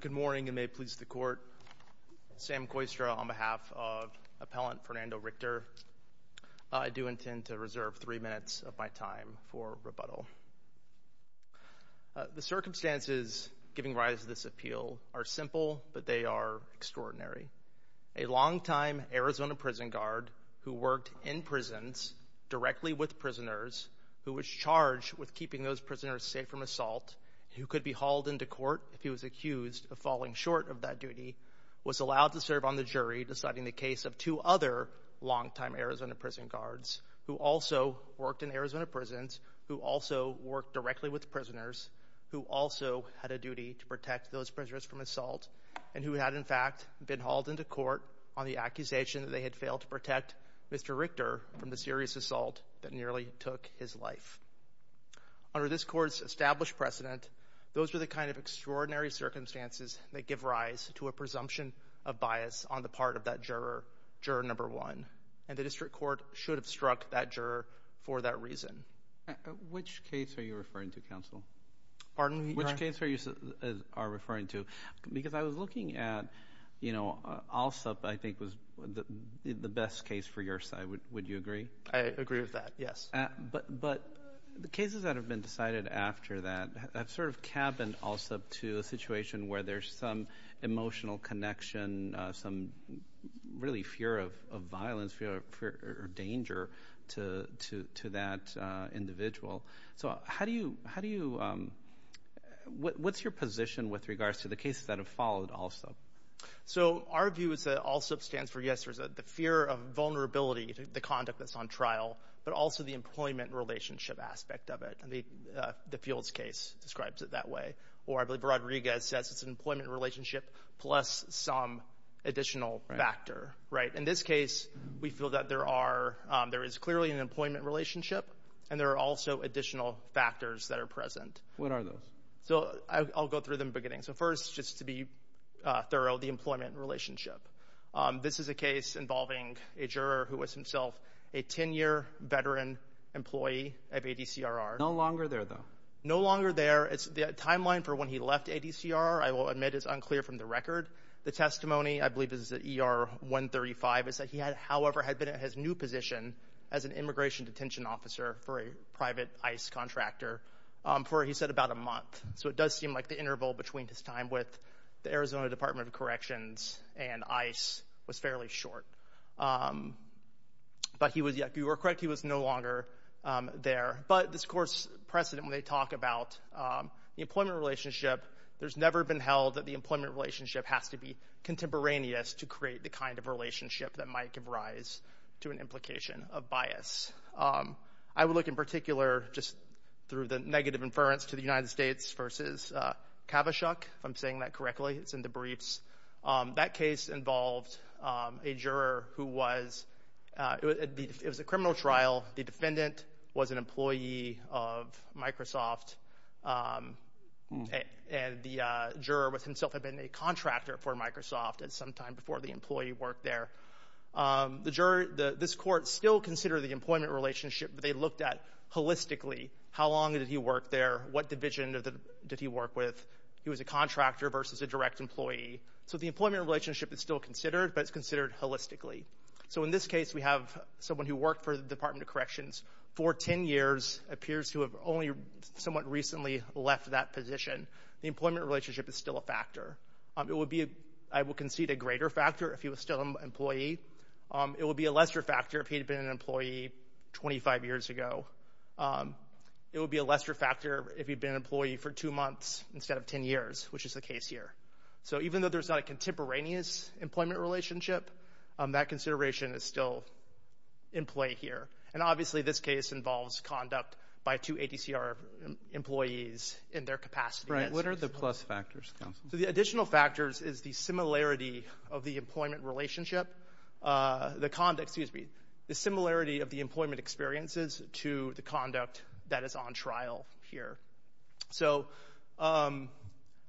Good morning and may it please the court. Sam Koistra on behalf of appellant Fernando Richter. I do intend to reserve three minutes of my time for rebuttal. The circumstances giving rise to this appeal are simple but they are extraordinary. A longtime Arizona prison guard who worked in prisons directly with prisoners who was charged with keeping those prisoners safe from assault, who could be hauled into court if he was accused of falling short of that duty, was allowed to serve on the jury deciding the case of two other longtime Arizona prison guards who also worked in Arizona prisons, who also worked directly with prisoners, who also had a duty to protect those prisoners from assault, and who had in fact been hauled into court on the accusation that they had failed to protect Mr. Richter from the serious assault that nearly took his life. Under this court's established precedent, those are the kind of extraordinary circumstances that give rise to a presumption of bias on the part of that juror, juror number one, and the district court should have struck that juror for that reason. Which case are you referring to counsel? Pardon? Which case are you referring to? Because I was looking at, you know, Alsup I think was the best case for your side. Would you agree? I agree with that, yes. But the cases that have been decided after that have sort of cabined Alsup to a situation where there's some emotional connection, some really fear of violence, fear or danger to that individual. So how do you, how do you, what's your position with regards to the cases that have followed Alsup? So our view is that Alsup stands for, yes, there's a fear of vulnerability to the conduct that's on the file, but also the employment relationship aspect of it. I mean, the Fields case describes it that way. Or I believe Rodriguez says it's an employment relationship plus some additional factor. Right. In this case, we feel that there are, there is clearly an employment relationship and there are also additional factors that are present. What are those? So I'll go through them beginning. So first, just to be thorough, the employment relationship. This is a case involving a juror who was himself a 10-year veteran employee of ADCRR. No longer there, though. No longer there. It's the timeline for when he left ADCRR. I will admit it's unclear from the record. The testimony, I believe, is that ER 135 is that he had, however, had been at his new position as an immigration detention officer for a private ICE contractor for, he said, about a month. So it does seem like the interval between his time with the Arizona Department of Corrections and ICE was fairly short. But he was, if you were correct, he was no longer there. But this, of course, precedent when they talk about the employment relationship, there's never been held that the employment relationship has to be contemporaneous to create the kind of relationship that might give rise to an implication of bias. I would look in particular, just through the negative inference to the United States versus Kavaschuk, if I'm saying that correctly. It's in the briefs. That case involved a juror who was, it was a criminal trial. The defendant was an employee of Microsoft, and the juror himself had been a contractor for Microsoft at some time before the employee worked there. The juror, this court still considered the employment relationship, but they looked at, holistically, how long did he work there? What division did he work with? He was a contractor versus a direct employee. So the employment relationship is still considered, but it's considered holistically. So in this case, we have someone who worked for the Department of Corrections for 10 years, appears to have only somewhat recently left that position. The employment relationship is still a factor. It would be, I will concede, a greater factor if he was still an employee. It would be a lesser factor if he'd been an employee 25 years ago. It would be a lesser factor if he'd been an employee for two months instead of 10 years, which is the case here. So even though there's not a contemporaneous employment relationship, that consideration is still in play here. And obviously this case involves conduct by two ADCR employees in their capacity. Right, what are the plus factors? So the additional factors is the similarity of the employment relationship, the conduct, excuse me, the similarity of the employment relationship.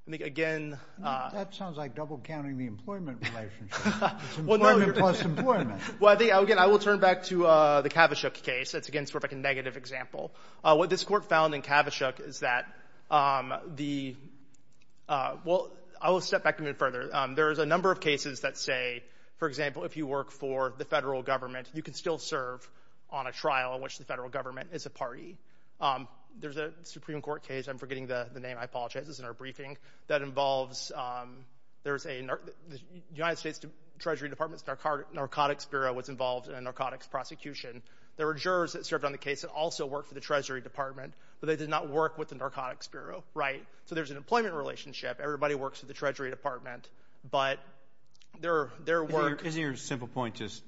That sounds like double counting the employment relationship. Employment plus employment. Well, again, I will turn back to the Kavaschuk case. That's, again, sort of a negative example. What this Court found in Kavaschuk is that the, well, I will step back a bit further. There is a number of cases that say, for example, if you work for the federal government, you can still serve on a trial in which the federal government is a party. There's a Supreme Court case, I'm forgetting the name, I apologize, it's in our briefing, that involves, there's a, the United States Treasury Department's Narcotics Bureau was involved in a narcotics prosecution. There were jurors that served on the case that also worked for the Treasury Department, but they did not work with the Narcotics Bureau, right? So there's an employment relationship. Everybody works for the Treasury Department, but their work... Isn't your simple point just,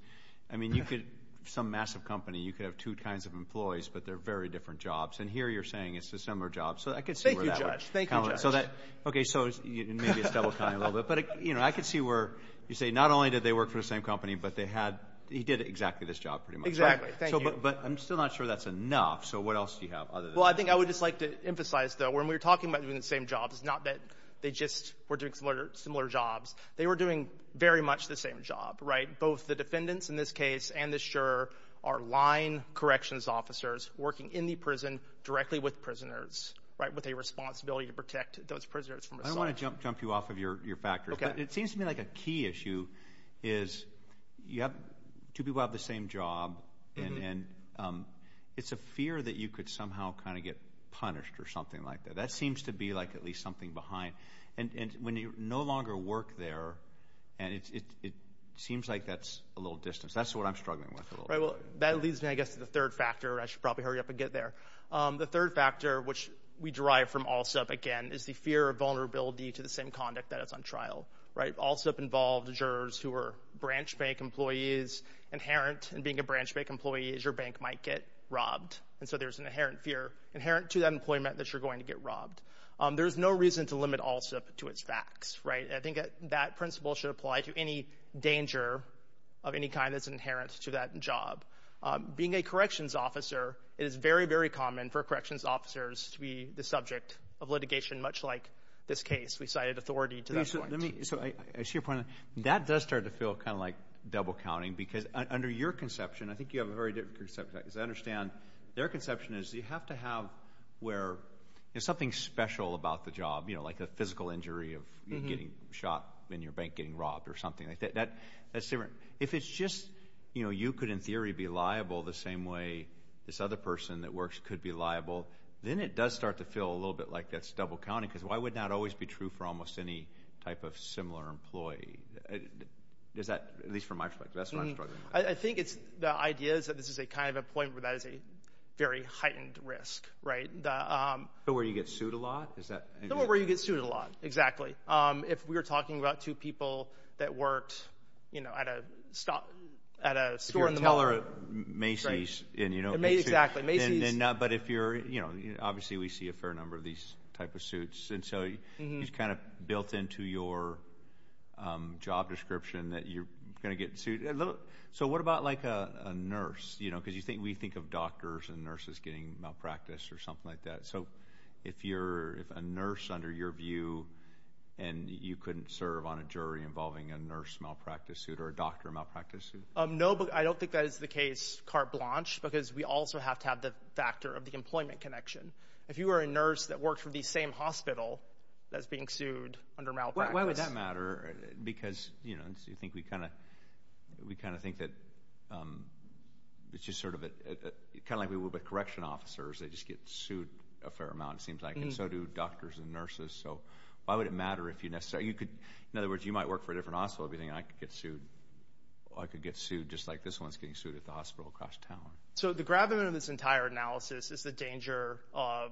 I mean, you could, some massive company, you could have two kinds of employees, but they're very different jobs, and here you're saying it's a similar job, so I could see where that would... Thank you, Judge, thank you, Judge. Okay, so maybe it's double-counting a little bit, but, you know, I could see where you say, not only did they work for the same company, but they had, he did exactly this job, pretty much. Exactly, thank you. So, but I'm still not sure that's enough, so what else do you have other than... Well, I think I would just like to emphasize, though, when we were talking about doing the same job, it's not that they just were doing similar jobs. They were doing very much the same job, right? Both the defendants, in this case, and the surer are line corrections officers working in the prison directly with prisoners, right, with a responsibility to protect those prisoners from assault. I don't want to jump you off of your factors, but it seems to me like a key issue is, you have, two people have the same job, and it's a fear that you could somehow kind of get punished or something like that. That seems to be like at least something behind, and when you no longer work there, and it seems like that's a little distance. That's what I'm struggling with. Right, well, that leads me, I guess, to the third factor. I should probably hurry up and get there. The third factor, which we derive from all stuff, again, is the fear of vulnerability to the same conduct that is on trial, right? AllSup involved jurors who were branch bank employees, inherent in being a branch bank employee, is your bank might get robbed, and so there's an inherent fear, inherent to that employment, that you're going to get robbed. There's no reason to limit AllSup to its facts, right? I think that principle should apply to any danger of any kind that's inherent to that job. Being a corrections officer, it is very, very common for corrections officers to be the subject of litigation, much like this case. We cited authority to that point. So, I see your point. That does start to feel kind of like double counting, because under your conception, I think you have a very different concept. As I understand, their conception is, you have to have something special about the job, like a physical injury of getting shot in your bank, getting robbed, or something like that. If it's just, you know, you could, in theory, be liable the same way this other person that works could be liable, then it does start to feel a little bit like that's double counting, because why would not always be true for almost any type of similar employee? Is that, at least from my perspective, that's what I'm struggling with. I think the idea is that this is a kind of risk, right? So, where you get sued a lot? So, where you get sued a lot, exactly. If we were talking about two people that worked, you know, at a store in the mall. If you're a teller, Macy's. Exactly, Macy's. But if you're, you know, obviously we see a fair number of these type of suits, and so, it's kind of built into your job description that you're going to get sued. So, what about, like, a nurse? You know, because we think of doctors and nurses getting malpractice or something like that. So, if you're, if a nurse, under your view, and you couldn't serve on a jury involving a nurse malpractice suit or a doctor malpractice suit? No, but I don't think that is the case, carte blanche, because we also have to have the factor of the employment connection. If you were a nurse that worked for the same hospital that's being sued under malpractice. Why would that matter? Because, you know, I think we kind of, we kind of think that it's just sort of a, kind of like we would with correction officers. They just get sued a fair amount, it seems like, and so do doctors and nurses. So, why would it matter if you necessarily, you could, in other words, you might work for a different hospital and be thinking, I could get sued. I could get sued just like this one's getting sued at the hospital across town. So, the gravamen of this entire analysis is the danger of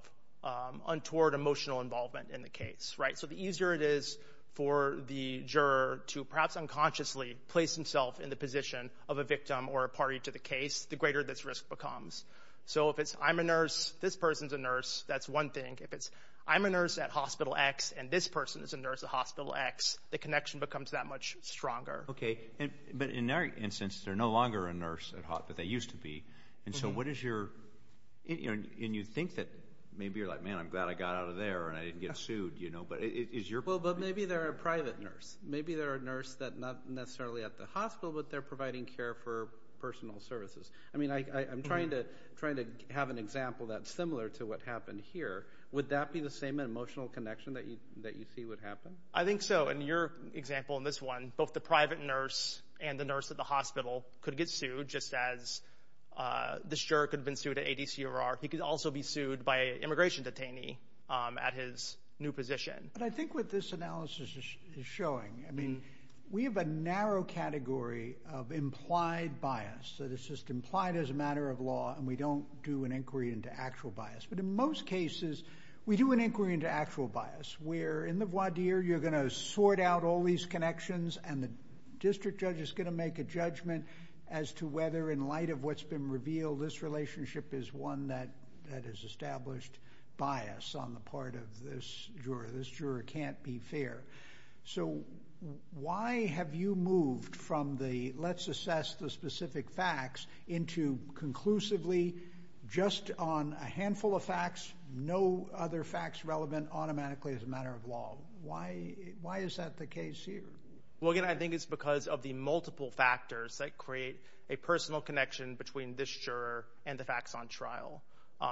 untoward emotional involvement in the case, right? So, the easier it is for the juror to, perhaps unconsciously, place himself in the position of a victim or a party to the case, the greater this risk becomes. So, if it's, I'm a nurse, this person's a nurse, that's one thing. If it's, I'm a nurse at hospital X and this person is a nurse at hospital X, the connection becomes that much stronger. Okay, but in our instance, they're no longer a nurse at hospital, they used to be, and so what is your, you know, and you think that, maybe you're like, man, I'm glad I got out of there and I didn't get sued, you know, but is your... Well, but maybe they're a private nurse. Maybe they're a nurse that, not necessarily at the hospital, but they're providing care for personal services. I mean, I'm trying to have an example that's similar to what happened here. Would that be the same emotional connection that you see would happen? I think so. In your example, in this one, both the private nurse and the nurse at the hospital could get sued, just as this juror could have been sued at ADCURR. He could also be sued by an immigration detainee at his new position. But I think what this analysis is showing, I mean, we have a narrow category of implied bias that is just implied as a matter of law and we don't do an inquiry into actual bias. But in most cases, we do an inquiry into actual bias, where in the voir dire, you're going to sort out all these connections and the district judge is going to make a judgment as to whether, in light of what's been revealed, this relationship is one that has established bias on the part of this juror. This juror can't be fair. So why have you moved from the, let's assess the specific facts, into conclusively just on a handful of facts, no other facts relevant automatically as a matter of law? Why is that the case here? Well, again, I think it's because of the multiple factors that create a personal connection between this juror and the facts on trial.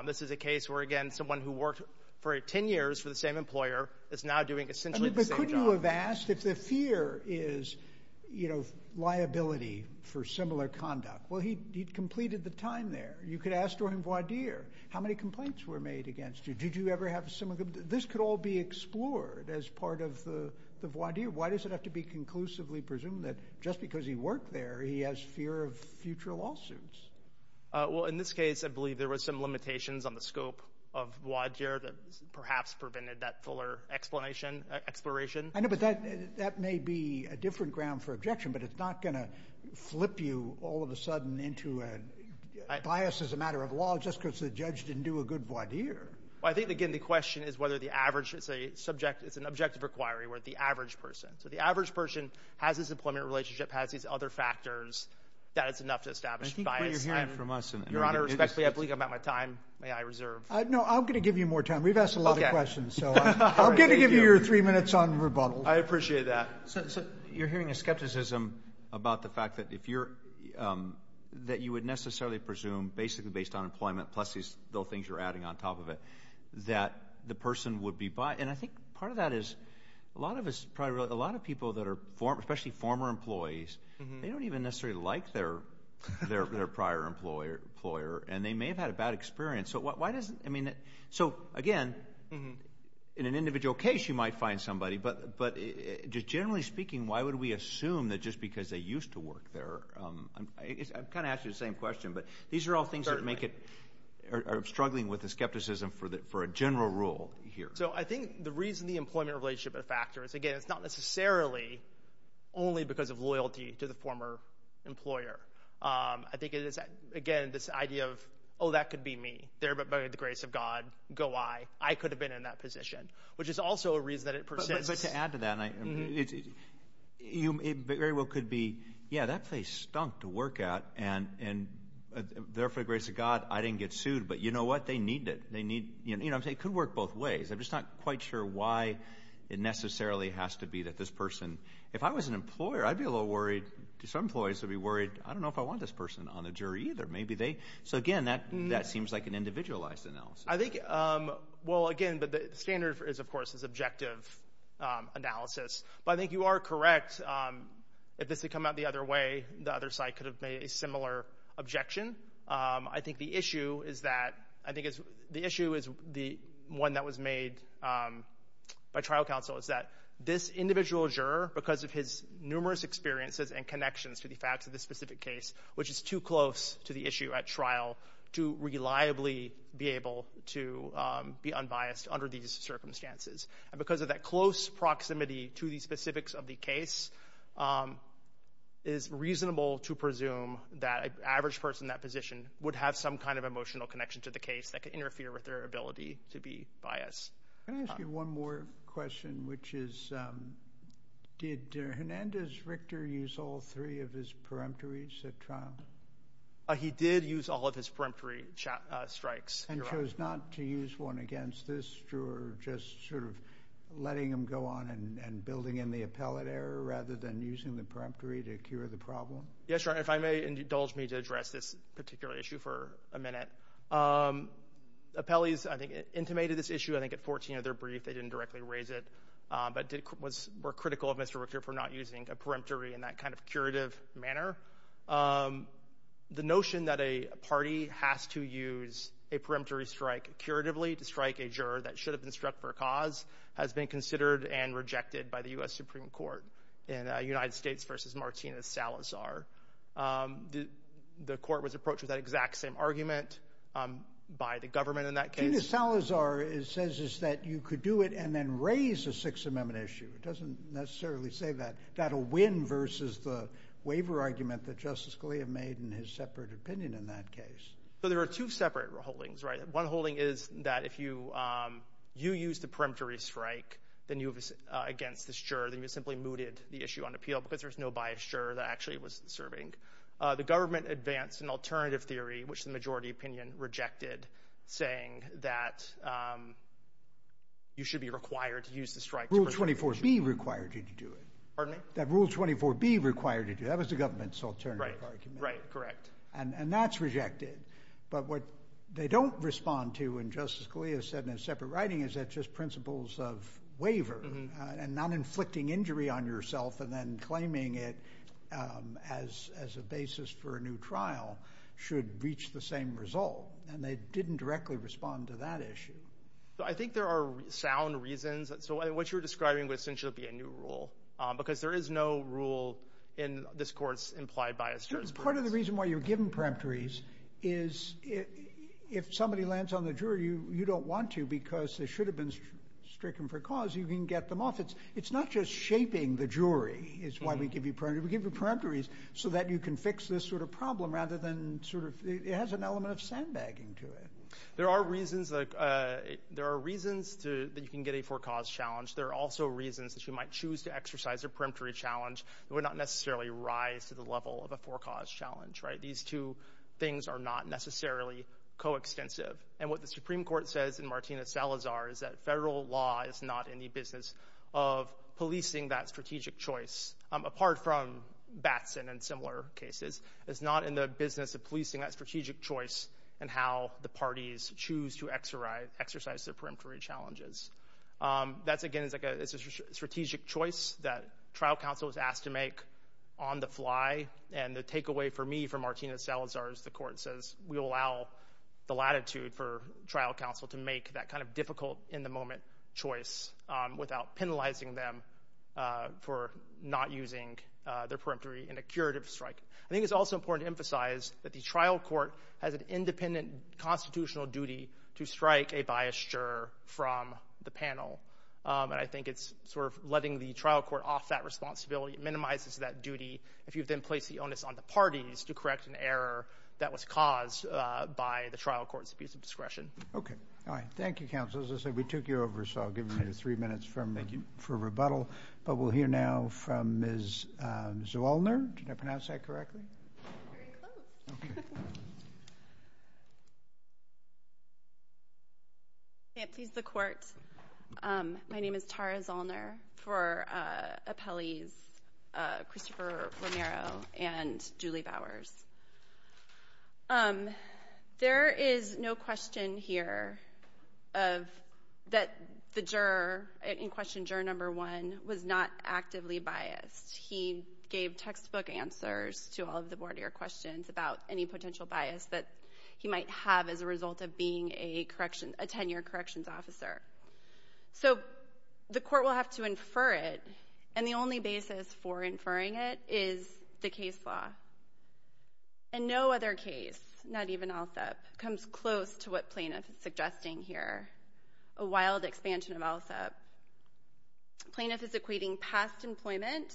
This is a case where, again, someone who worked for 10 years for the same employer is now doing essentially the same job. But couldn't you have asked if the fear is, you know, liability for similar conduct? Well, he'd completed the time there. You could ask to him, voir dire, how many complaints were made against you? Did you ever have some of them? This could all be explored as part of the voir dire. Why does it have to be conclusively presumed that just because he worked there, he has fear of future lawsuits? Well, in this case, I believe there were some limitations on the scope of voir dire that perhaps prevented that fuller explanation, exploration. I know, but that may be a different ground for objection, but it's not going to flip you all of a sudden into a bias as a matter of law just because the judge didn't do a good voir dire. Well, I think, again, the question is whether the average, it's a subject, it's an objective inquiry where the average person, so the average person has this employment relationship, has these other factors, that it's enough to establish bias. I think what you're hearing from us, and I'm going to... Your Honor, respectfully, I believe I'm out of my time. May I reserve? No, I'm going to give you more time. We've asked a lot of questions, so I'm going to give you your three minutes on rebuttal. I appreciate that. You're hearing a skepticism about the fact that if you're, that you would necessarily presume basically based on employment, plus these little things you're adding on top of it, that the person would be biased. And I think part of that is a lot of people that are, especially former employees, they don't even necessarily like their prior employer, and they may have had a bad experience. So why doesn't, I mean, so again, in an individual case you might find somebody, but just generally speaking, why would we assume that just because they used to work there, I'm kind of asking the same question, but these are all things that make it, are struggling with the skepticism for a general rule here. So I think the reason the employment relationship is a factor is, again, it's not necessarily only because of loyalty to the former employer. I think it is, again, this idea of, oh, that could be me. There by the grace of God, go I. I could have been in that position, which is also a reason that it persists. But I'd like to add to that, and I, it very well could be, yeah, that place stunk to work at, and there for the grace of God, I didn't get sued, but you know what, they need it. They need, you know what I'm saying, it could work both ways. I'm just not quite sure why it necessarily has to be that this person, if I was an employer, I'd be a little worried, some employees would be worried, I don't know if I want this person on the jury either. Maybe they, so again, that seems like an individualized analysis. I think, well, again, but the standard is, of course, is objective analysis. But I think you are correct, if this had come out the other way, the other side could have made a similar objection. I think the issue is that, I think the issue is the one that was made by trial counsel, is that this individual juror, because of his numerous experiences and connections to the facts of this specific case, which is too close to the issue at trial to reliably be able to be unbiased under these circumstances, and because of that close proximity to the specifics of the case, it is reasonable to presume that an average person in that position would have some kind of emotional connection to the case that could interfere with their ability to be biased. Can I ask you one more question, which is, did Hernandez Richter use all three of his peremptories at trial? He did use all of his peremptory strikes. And chose not to use one against this juror, just sort of letting him go on and building in the appellate error, rather than using the peremptory to cure the problem? Yes, Your Honor, if I may indulge me to address this particular issue for a minute. Appellees, I think, intimated this issue, I think at 14 of their brief, they didn't directly raise it, but were critical of Mr. Richter for not using a peremptory in that kind of curative manner. The notion that a party has to use a peremptory strike curatively to strike a juror that should have been struck for a cause has been considered and rejected by the U.S. Supreme Court in United States v. Martina Salazar. The court was approached with that exact same argument by the government in that case. Martina Salazar says that you could do it and then raise a Sixth Amendment issue. It doesn't necessarily say that. That'll win versus the waiver argument that Justice Scalia made in his separate opinion in that case. So, there are two separate holdings, right? One holding is that if you use the peremptory strike against this juror, then you simply mooted the issue on appeal because there's no biased juror that actually was serving. The government advanced an alternative theory, which the majority opinion rejected, saying that you should be required to use the strike Rule 24B required you to do it. Pardon me? That Rule 24B required you to do it. That was the government's alternative argument. Right, correct. And that's rejected. But what they don't respond to, and Justice Scalia said in his separate writing, is that just principles of waiver and not inflicting injury on yourself and then claiming it as a basis for a new trial should reach the same result. And they didn't directly respond to that issue. I think there are sound reasons. So, what you're describing would essentially be a new rule, because there is no rule in this court's implied bias jurors. Part of the reason why you're given peremptories is if somebody lands on the jury, you don't want to because they should have been stricken for cause. You can get them off. It's not just shaping the jury is why we give you peremptories. We give you peremptories so that you can fix this sort of problem rather than sort of, it has an element of sandbagging to it. There are reasons that you can get a for-cause challenge. There are also reasons that you might choose to exercise a peremptory challenge that would not necessarily rise to the level of a for-cause challenge. These two things are not necessarily co-extensive. And what the Supreme Court says in Martina Salazar is that federal law is not in the business of policing that strategic choice, apart from Batson and similar cases. It's not in the business of policing that strategic choice and how the parties choose to exercise their peremptory challenges. That's again, it's a strategic choice that trial counsel was asked to make on the fly. And the takeaway for me from Martina Salazar is the court says we allow the latitude for trial counsel to make that kind of difficult in the moment choice without penalizing them for not using their peremptory in a curative strike. I think it's also important to emphasize that the trial court has an independent constitutional duty to strike a biased juror from the panel. And I think it's sort of letting the trial court off that responsibility. It minimizes that duty if you've then placed the onus on the parties to correct an error that was caused by the trial court's abuse of discretion. Okay. All right. Thank you, counsel. As I said, we took you over, so I'll give you three minutes for rebuttal. But we'll hear now from Ms. Zollner. Did I pronounce that correctly? Very close. Okay. Yeah, please, the court. My name is Tara Zollner for appellees Christopher Romero and Julie Bowers. There is no question here that the juror in question, juror number one, was not actively biased. He gave textbook answers to all of the board of your questions about any potential bias that he might have as a result of being a correction, a tenure corrections officer. So the court will have to infer it. And the only basis for inferring it is the case law. And no other case, not even ALSEP, comes close to what plaintiff is suggesting here, a wild expansion of ALSEP. Plaintiff is equating past employment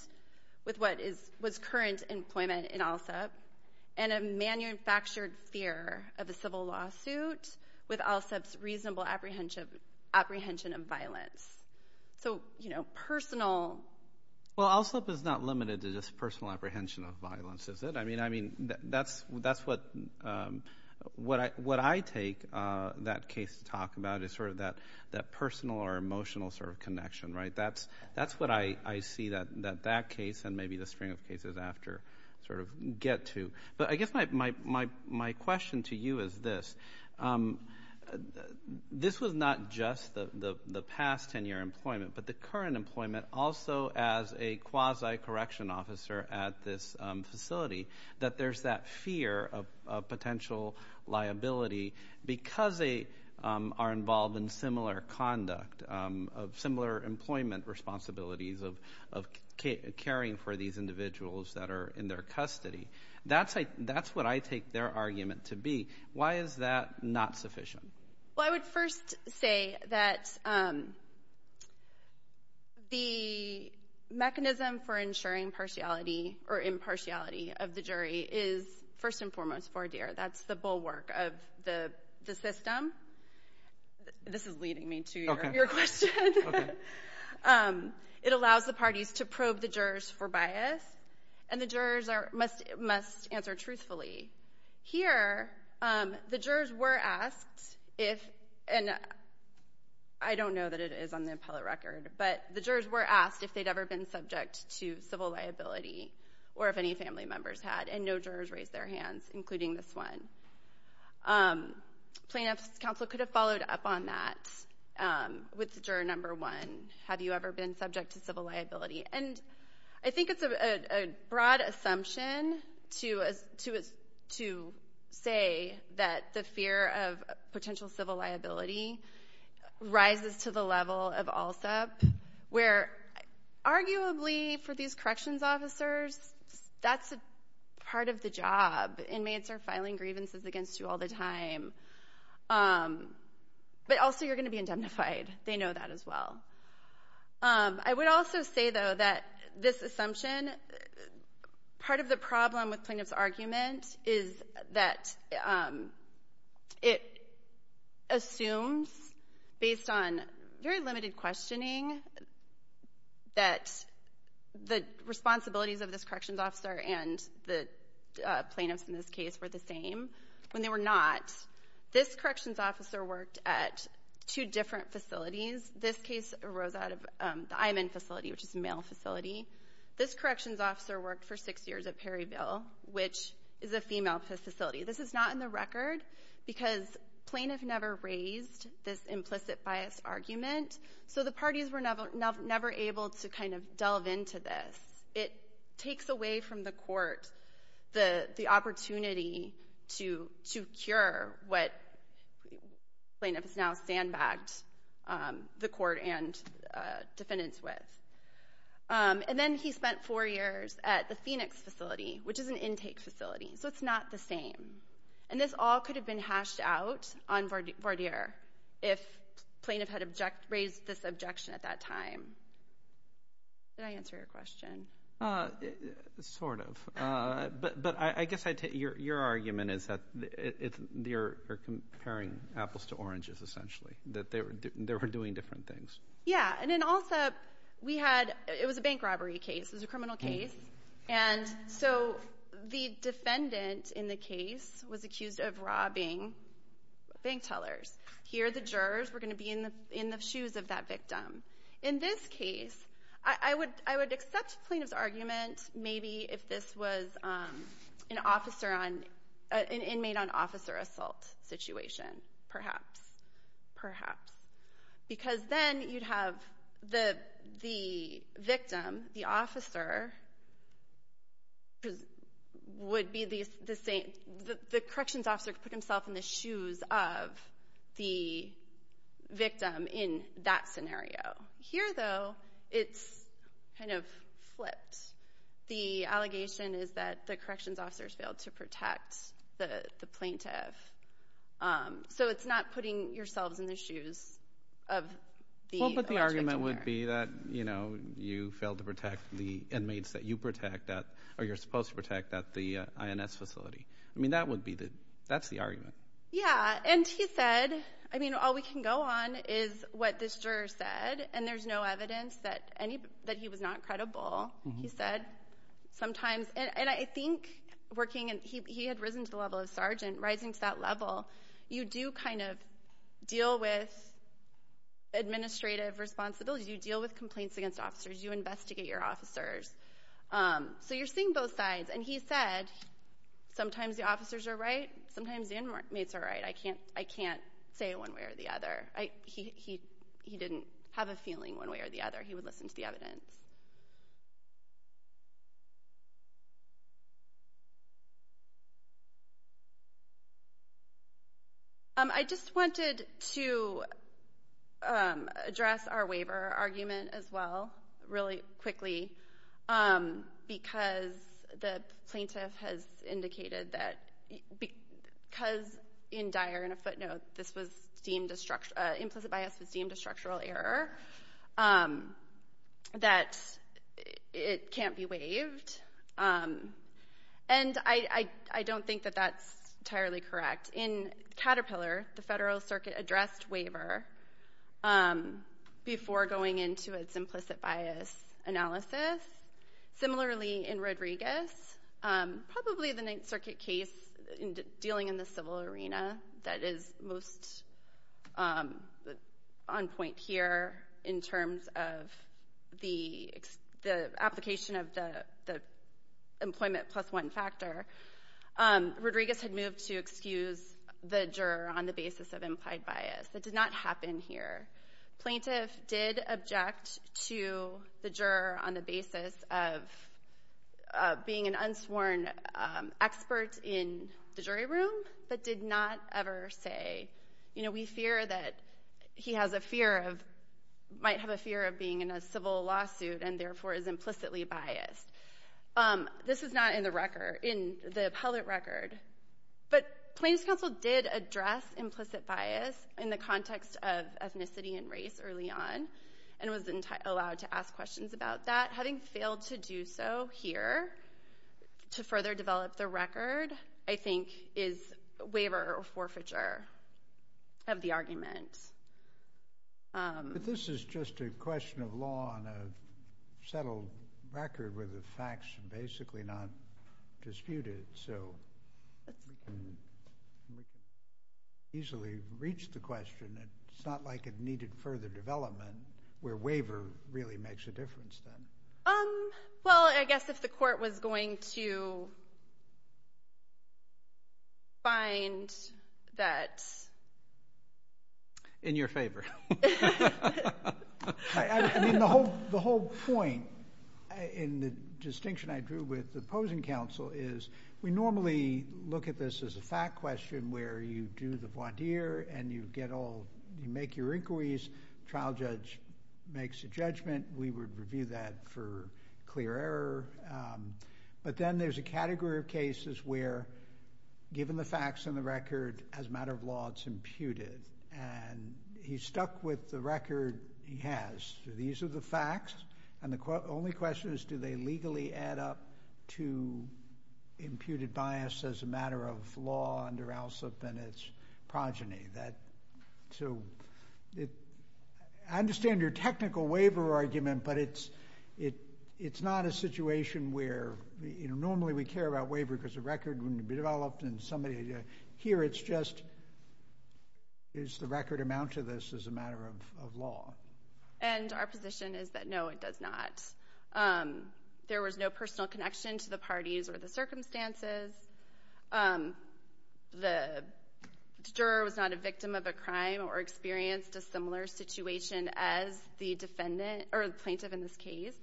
with what is, what's current employment in ALSEP and a manufactured fear of a civil lawsuit with ALSEP's reasonable apprehension of violence. So, you know, personal... Well, ALSEP is not limited to just personal apprehension of violence, is it? I mean, that's what I take that case to talk about, is sort of that personal or emotional sort of connection, right? That's what I see that that case and maybe the string of cases after sort of get to. But I guess my question to you is this. This was not just the past 10-year employment, but the current employment also as a quasi-correction officer at this facility, that there's that fear of potential liability because they are involved in similar conduct, similar employment responsibilities of caring for these individuals that are in their custody. That's what I take their argument to be. Why is that not sufficient? Well, I would first say that the mechanism for ensuring partiality or impartiality of the jury is first and foremost for ADARE. That's the bulwark of the system. This is leading me to your question. It allows the parties to probe the jurors for bias, and the jurors must answer truthfully. Here, the jurors were asked if, and I don't know that it is on the appellate record, but the jurors were asked if they'd ever been subject to civil liability or if any family members had, and no jurors raised their hands, including this one. Plaintiff's counsel could have followed up on that with juror number one. Have you ever been subject to civil liability? And I think it's a broad assumption to say that the fear of potential civil liability rises to the level of ALSEP, where arguably for these corrections officers, that's part of the job. Inmates are filing grievances against you all the time, but also you're going to be indemnified. They know that as well. I would also say, though, that this assumption, part of the problem with plaintiff's argument is that it assumes, based on very limited questioning, that the responsibilities of this corrections officer and the plaintiffs in this case were the same. When they were not, this corrections officer worked at two different facilities. This case arose out of the IMN facility, which is a male facility. This corrections officer worked for six years at Perryville, which is a female facility. This is not in the record because plaintiff never raised this implicit bias argument, so the parties were never able to kind of delve into this. It takes away from the court the opportunity to cure what plaintiff has now sandbagged the court and defendants with. And then he spent four years at the Phoenix facility, which is an intake facility, so it's not the same. And this all could have been hashed out on voir dire if plaintiff had raised this objection at that time. Did I answer your question? Sort of, but I guess your argument is that you're comparing apples to oranges, essentially, that they were doing different things. Yeah, and then also, it was a bank robbery case. It was a criminal case, and so the defendant in the case was accused of robbing bank tellers. Here, the jurors were going to be in the shoes of that victim. In this case, I would accept the plaintiff's argument, maybe, if this was an inmate-on-officer put himself in the shoes of the victim in that scenario. Here, though, it's kind of flipped. The allegation is that the corrections officer has failed to protect the plaintiff, so it's not putting yourselves in the shoes of the alleged victim there. But the argument would be that, you know, you failed to protect the inmates that you protect at, or you're Yeah, and he said, I mean, all we can go on is what this juror said, and there's no evidence that he was not credible. He said, sometimes, and I think working, he had risen to the level of sergeant, rising to that level, you do kind of deal with administrative responsibilities. You deal with complaints against officers. You investigate your officers. So you're seeing both sides, and he said, sometimes, the officers are right. Sometimes, the inmates are right. I can't say one way or the other. He didn't have a feeling one way or the other. He would listen to the evidence. I just wanted to address our waiver argument, as well, really quickly, because the plaintiff has indicated that, because in Dyer, in a footnote, this was deemed, implicit bias was a structural error, that it can't be waived. And I don't think that that's entirely correct. In Caterpillar, the Federal Circuit addressed waiver before going into its implicit bias analysis. Similarly, in Rodriguez, probably the Ninth Circuit case, dealing in the civil in terms of the application of the employment plus one factor, Rodriguez had moved to excuse the juror on the basis of implied bias. That did not happen here. Plaintiff did object to the juror on the basis of being an unsworn expert in the jury room, but did not ever say, you know, we fear that he has a fear of, might have a fear of being in a civil lawsuit and, therefore, is implicitly biased. This is not in the record, in the appellate record. But Plaintiff's counsel did address implicit bias in the context of ethnicity and race early on, and was allowed to ask questions about that. Having failed to do so here to further develop the record, I think, is waiver or forfeiture of the argument. This is just a question of law on a settled record where the facts are basically not disputed, so we can easily reach the question. It's not like it needed further development where waiver really makes a difference then. Well, I guess if the court was going to find that. In your favor. I mean, the whole point in the distinction I drew with the opposing counsel is we normally look at this as a fact question where you do the voir dire and you get all, you make your inquiries, trial judge makes a judgment, we would review that for clear error. But then there's a category of cases where, given the facts and the record, as a matter of law, it's imputed. And he's stuck with the record he has. These are the facts, and the only question is do they legally add up to imputed bias as a matter of law under ALSEP and its progeny. So I understand your technical waiver argument, but it's not a situation where normally we care about waiver because the record wouldn't be developed. Here it's just is the record amount to this as a matter of law. And our position is that no, it does not. There was no personal connection to the parties or the circumstances. The juror was not a victim of a crime or experienced a similar situation as the defendant or the plaintiff in this case.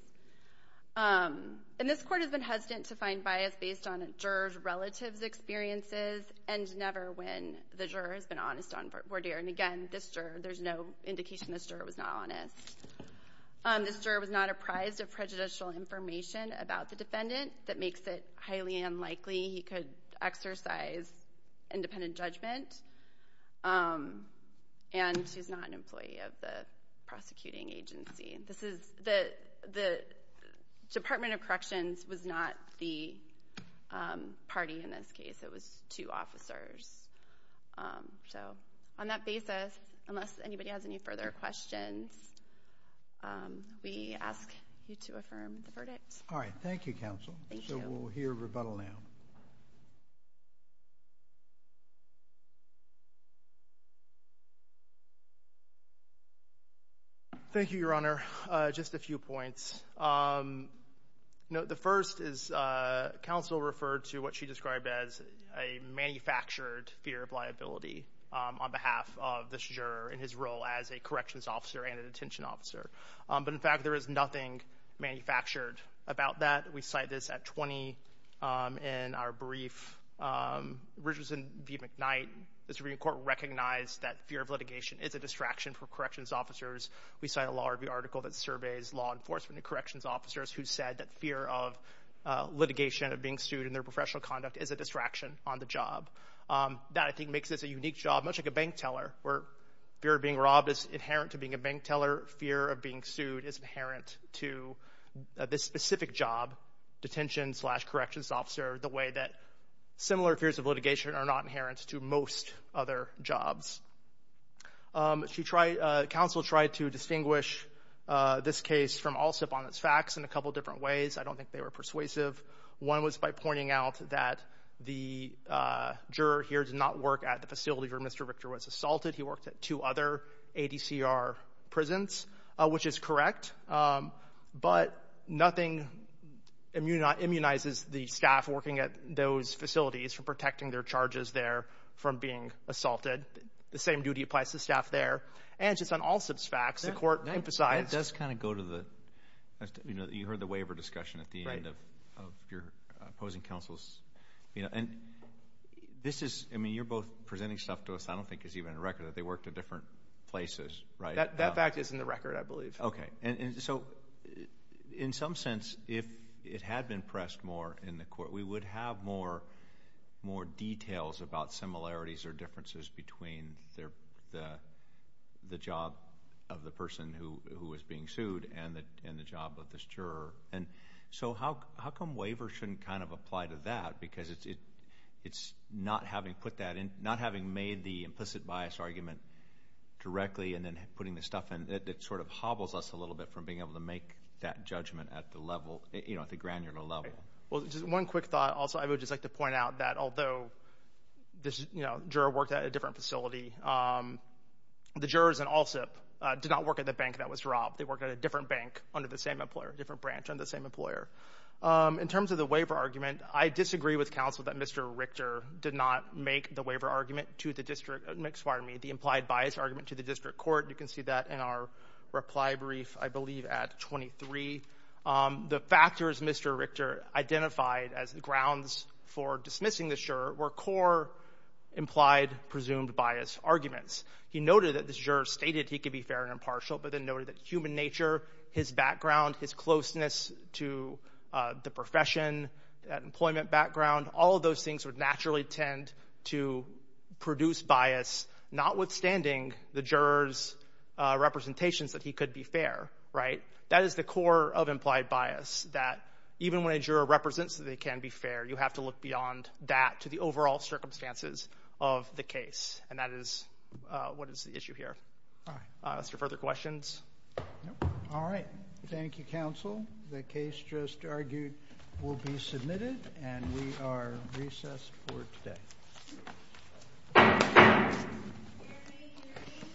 And this court has been hesitant to find bias based on a juror's relative's experiences and never when the juror has been honest on voir dire. And again, this juror, there's no indication this juror was not honest. This juror was not apprised of prejudicial information about the defendant that makes it highly unlikely he could exercise independent judgment. And he's not an employee of the prosecuting agency. The Department of Corrections was not the party in this case. It was two officers. So on that basis, unless anybody has any further questions, we ask you to affirm the verdict. All right. Thank you, Counsel. So we'll hear rebuttal now. Thank you, Your Honor. Just a few points. The first is Counsel referred to what she described as a manufactured fear of liability on behalf of this juror in his role as a corrections officer and a detention officer. But in fact, there is nothing manufactured about that. We cite this at 20 in our brief. Richardson v. McKnight, the Supreme Court recognized that fear of litigation is a distraction for corrections officers. We cite a law review article that surveys law enforcement and corrections officers who said that fear of litigation, of being sued in their professional conduct, is a distraction on the job. That, I think, makes this a unique job, much like a bank teller, where fear of being robbed is inherent to being a bank teller. Fear of being sued is inherent to this specific job, detention-slash-corrections officer, the way that similar fears of litigation are not inherent to most other jobs. Counsel tried to distinguish this case from all sip-on-its-facts in a couple different ways. I was by pointing out that the juror here did not work at the facility where Mr. Richter was assaulted. He worked at two other ADCR prisons, which is correct. But nothing immunizes the staff working at those facilities from protecting their charges there from being assaulted. The same duty applies to the staff there. And just on all sip-on-its-facts, the Court of your opposing counsels, you know, and this is, I mean, you're both presenting stuff to us I don't think is even a record, that they worked at different places, right? That fact is in the record, I believe. Okay. And so, in some sense, if it had been pressed more in the Court, we would have more details about similarities or differences between the job of the person who was being sued and the job of this juror. And so, how come waivers shouldn't kind of apply to that? Because it's not having put that in, not having made the implicit bias argument directly and then putting the stuff in, it sort of hobbles us a little bit from being able to make that judgment at the level, you know, at the granular level. Well, just one quick thought also. I would just like to point out that although this, you know, juror worked at a different facility, the jurors in all sip did not work at the bank that was robbed. They worked at a different bank under the same employer, different branch on the same employer. In terms of the waiver argument, I disagree with counsel that Mr. Richter did not make the waiver argument to the district, excuse me, the implied bias argument to the district court. You can see that in our reply brief, I believe at 23. The factors Mr. Richter identified as the grounds for dismissing the juror were core implied presumed bias arguments. He noted that this juror stated he could be fair and impartial, but then noted that human nature, his background, his closeness to the profession, employment background, all of those things would naturally tend to produce bias, notwithstanding the juror's representations that he could be fair, right? That is the core of implied bias, that even when a juror represents that they can be fair, you have to look beyond that to the overall circumstances of the case, and that is what is the issue here. Mr. Further questions? All right. Thank you, counsel. The case just argued will be submitted and we are recessed for today.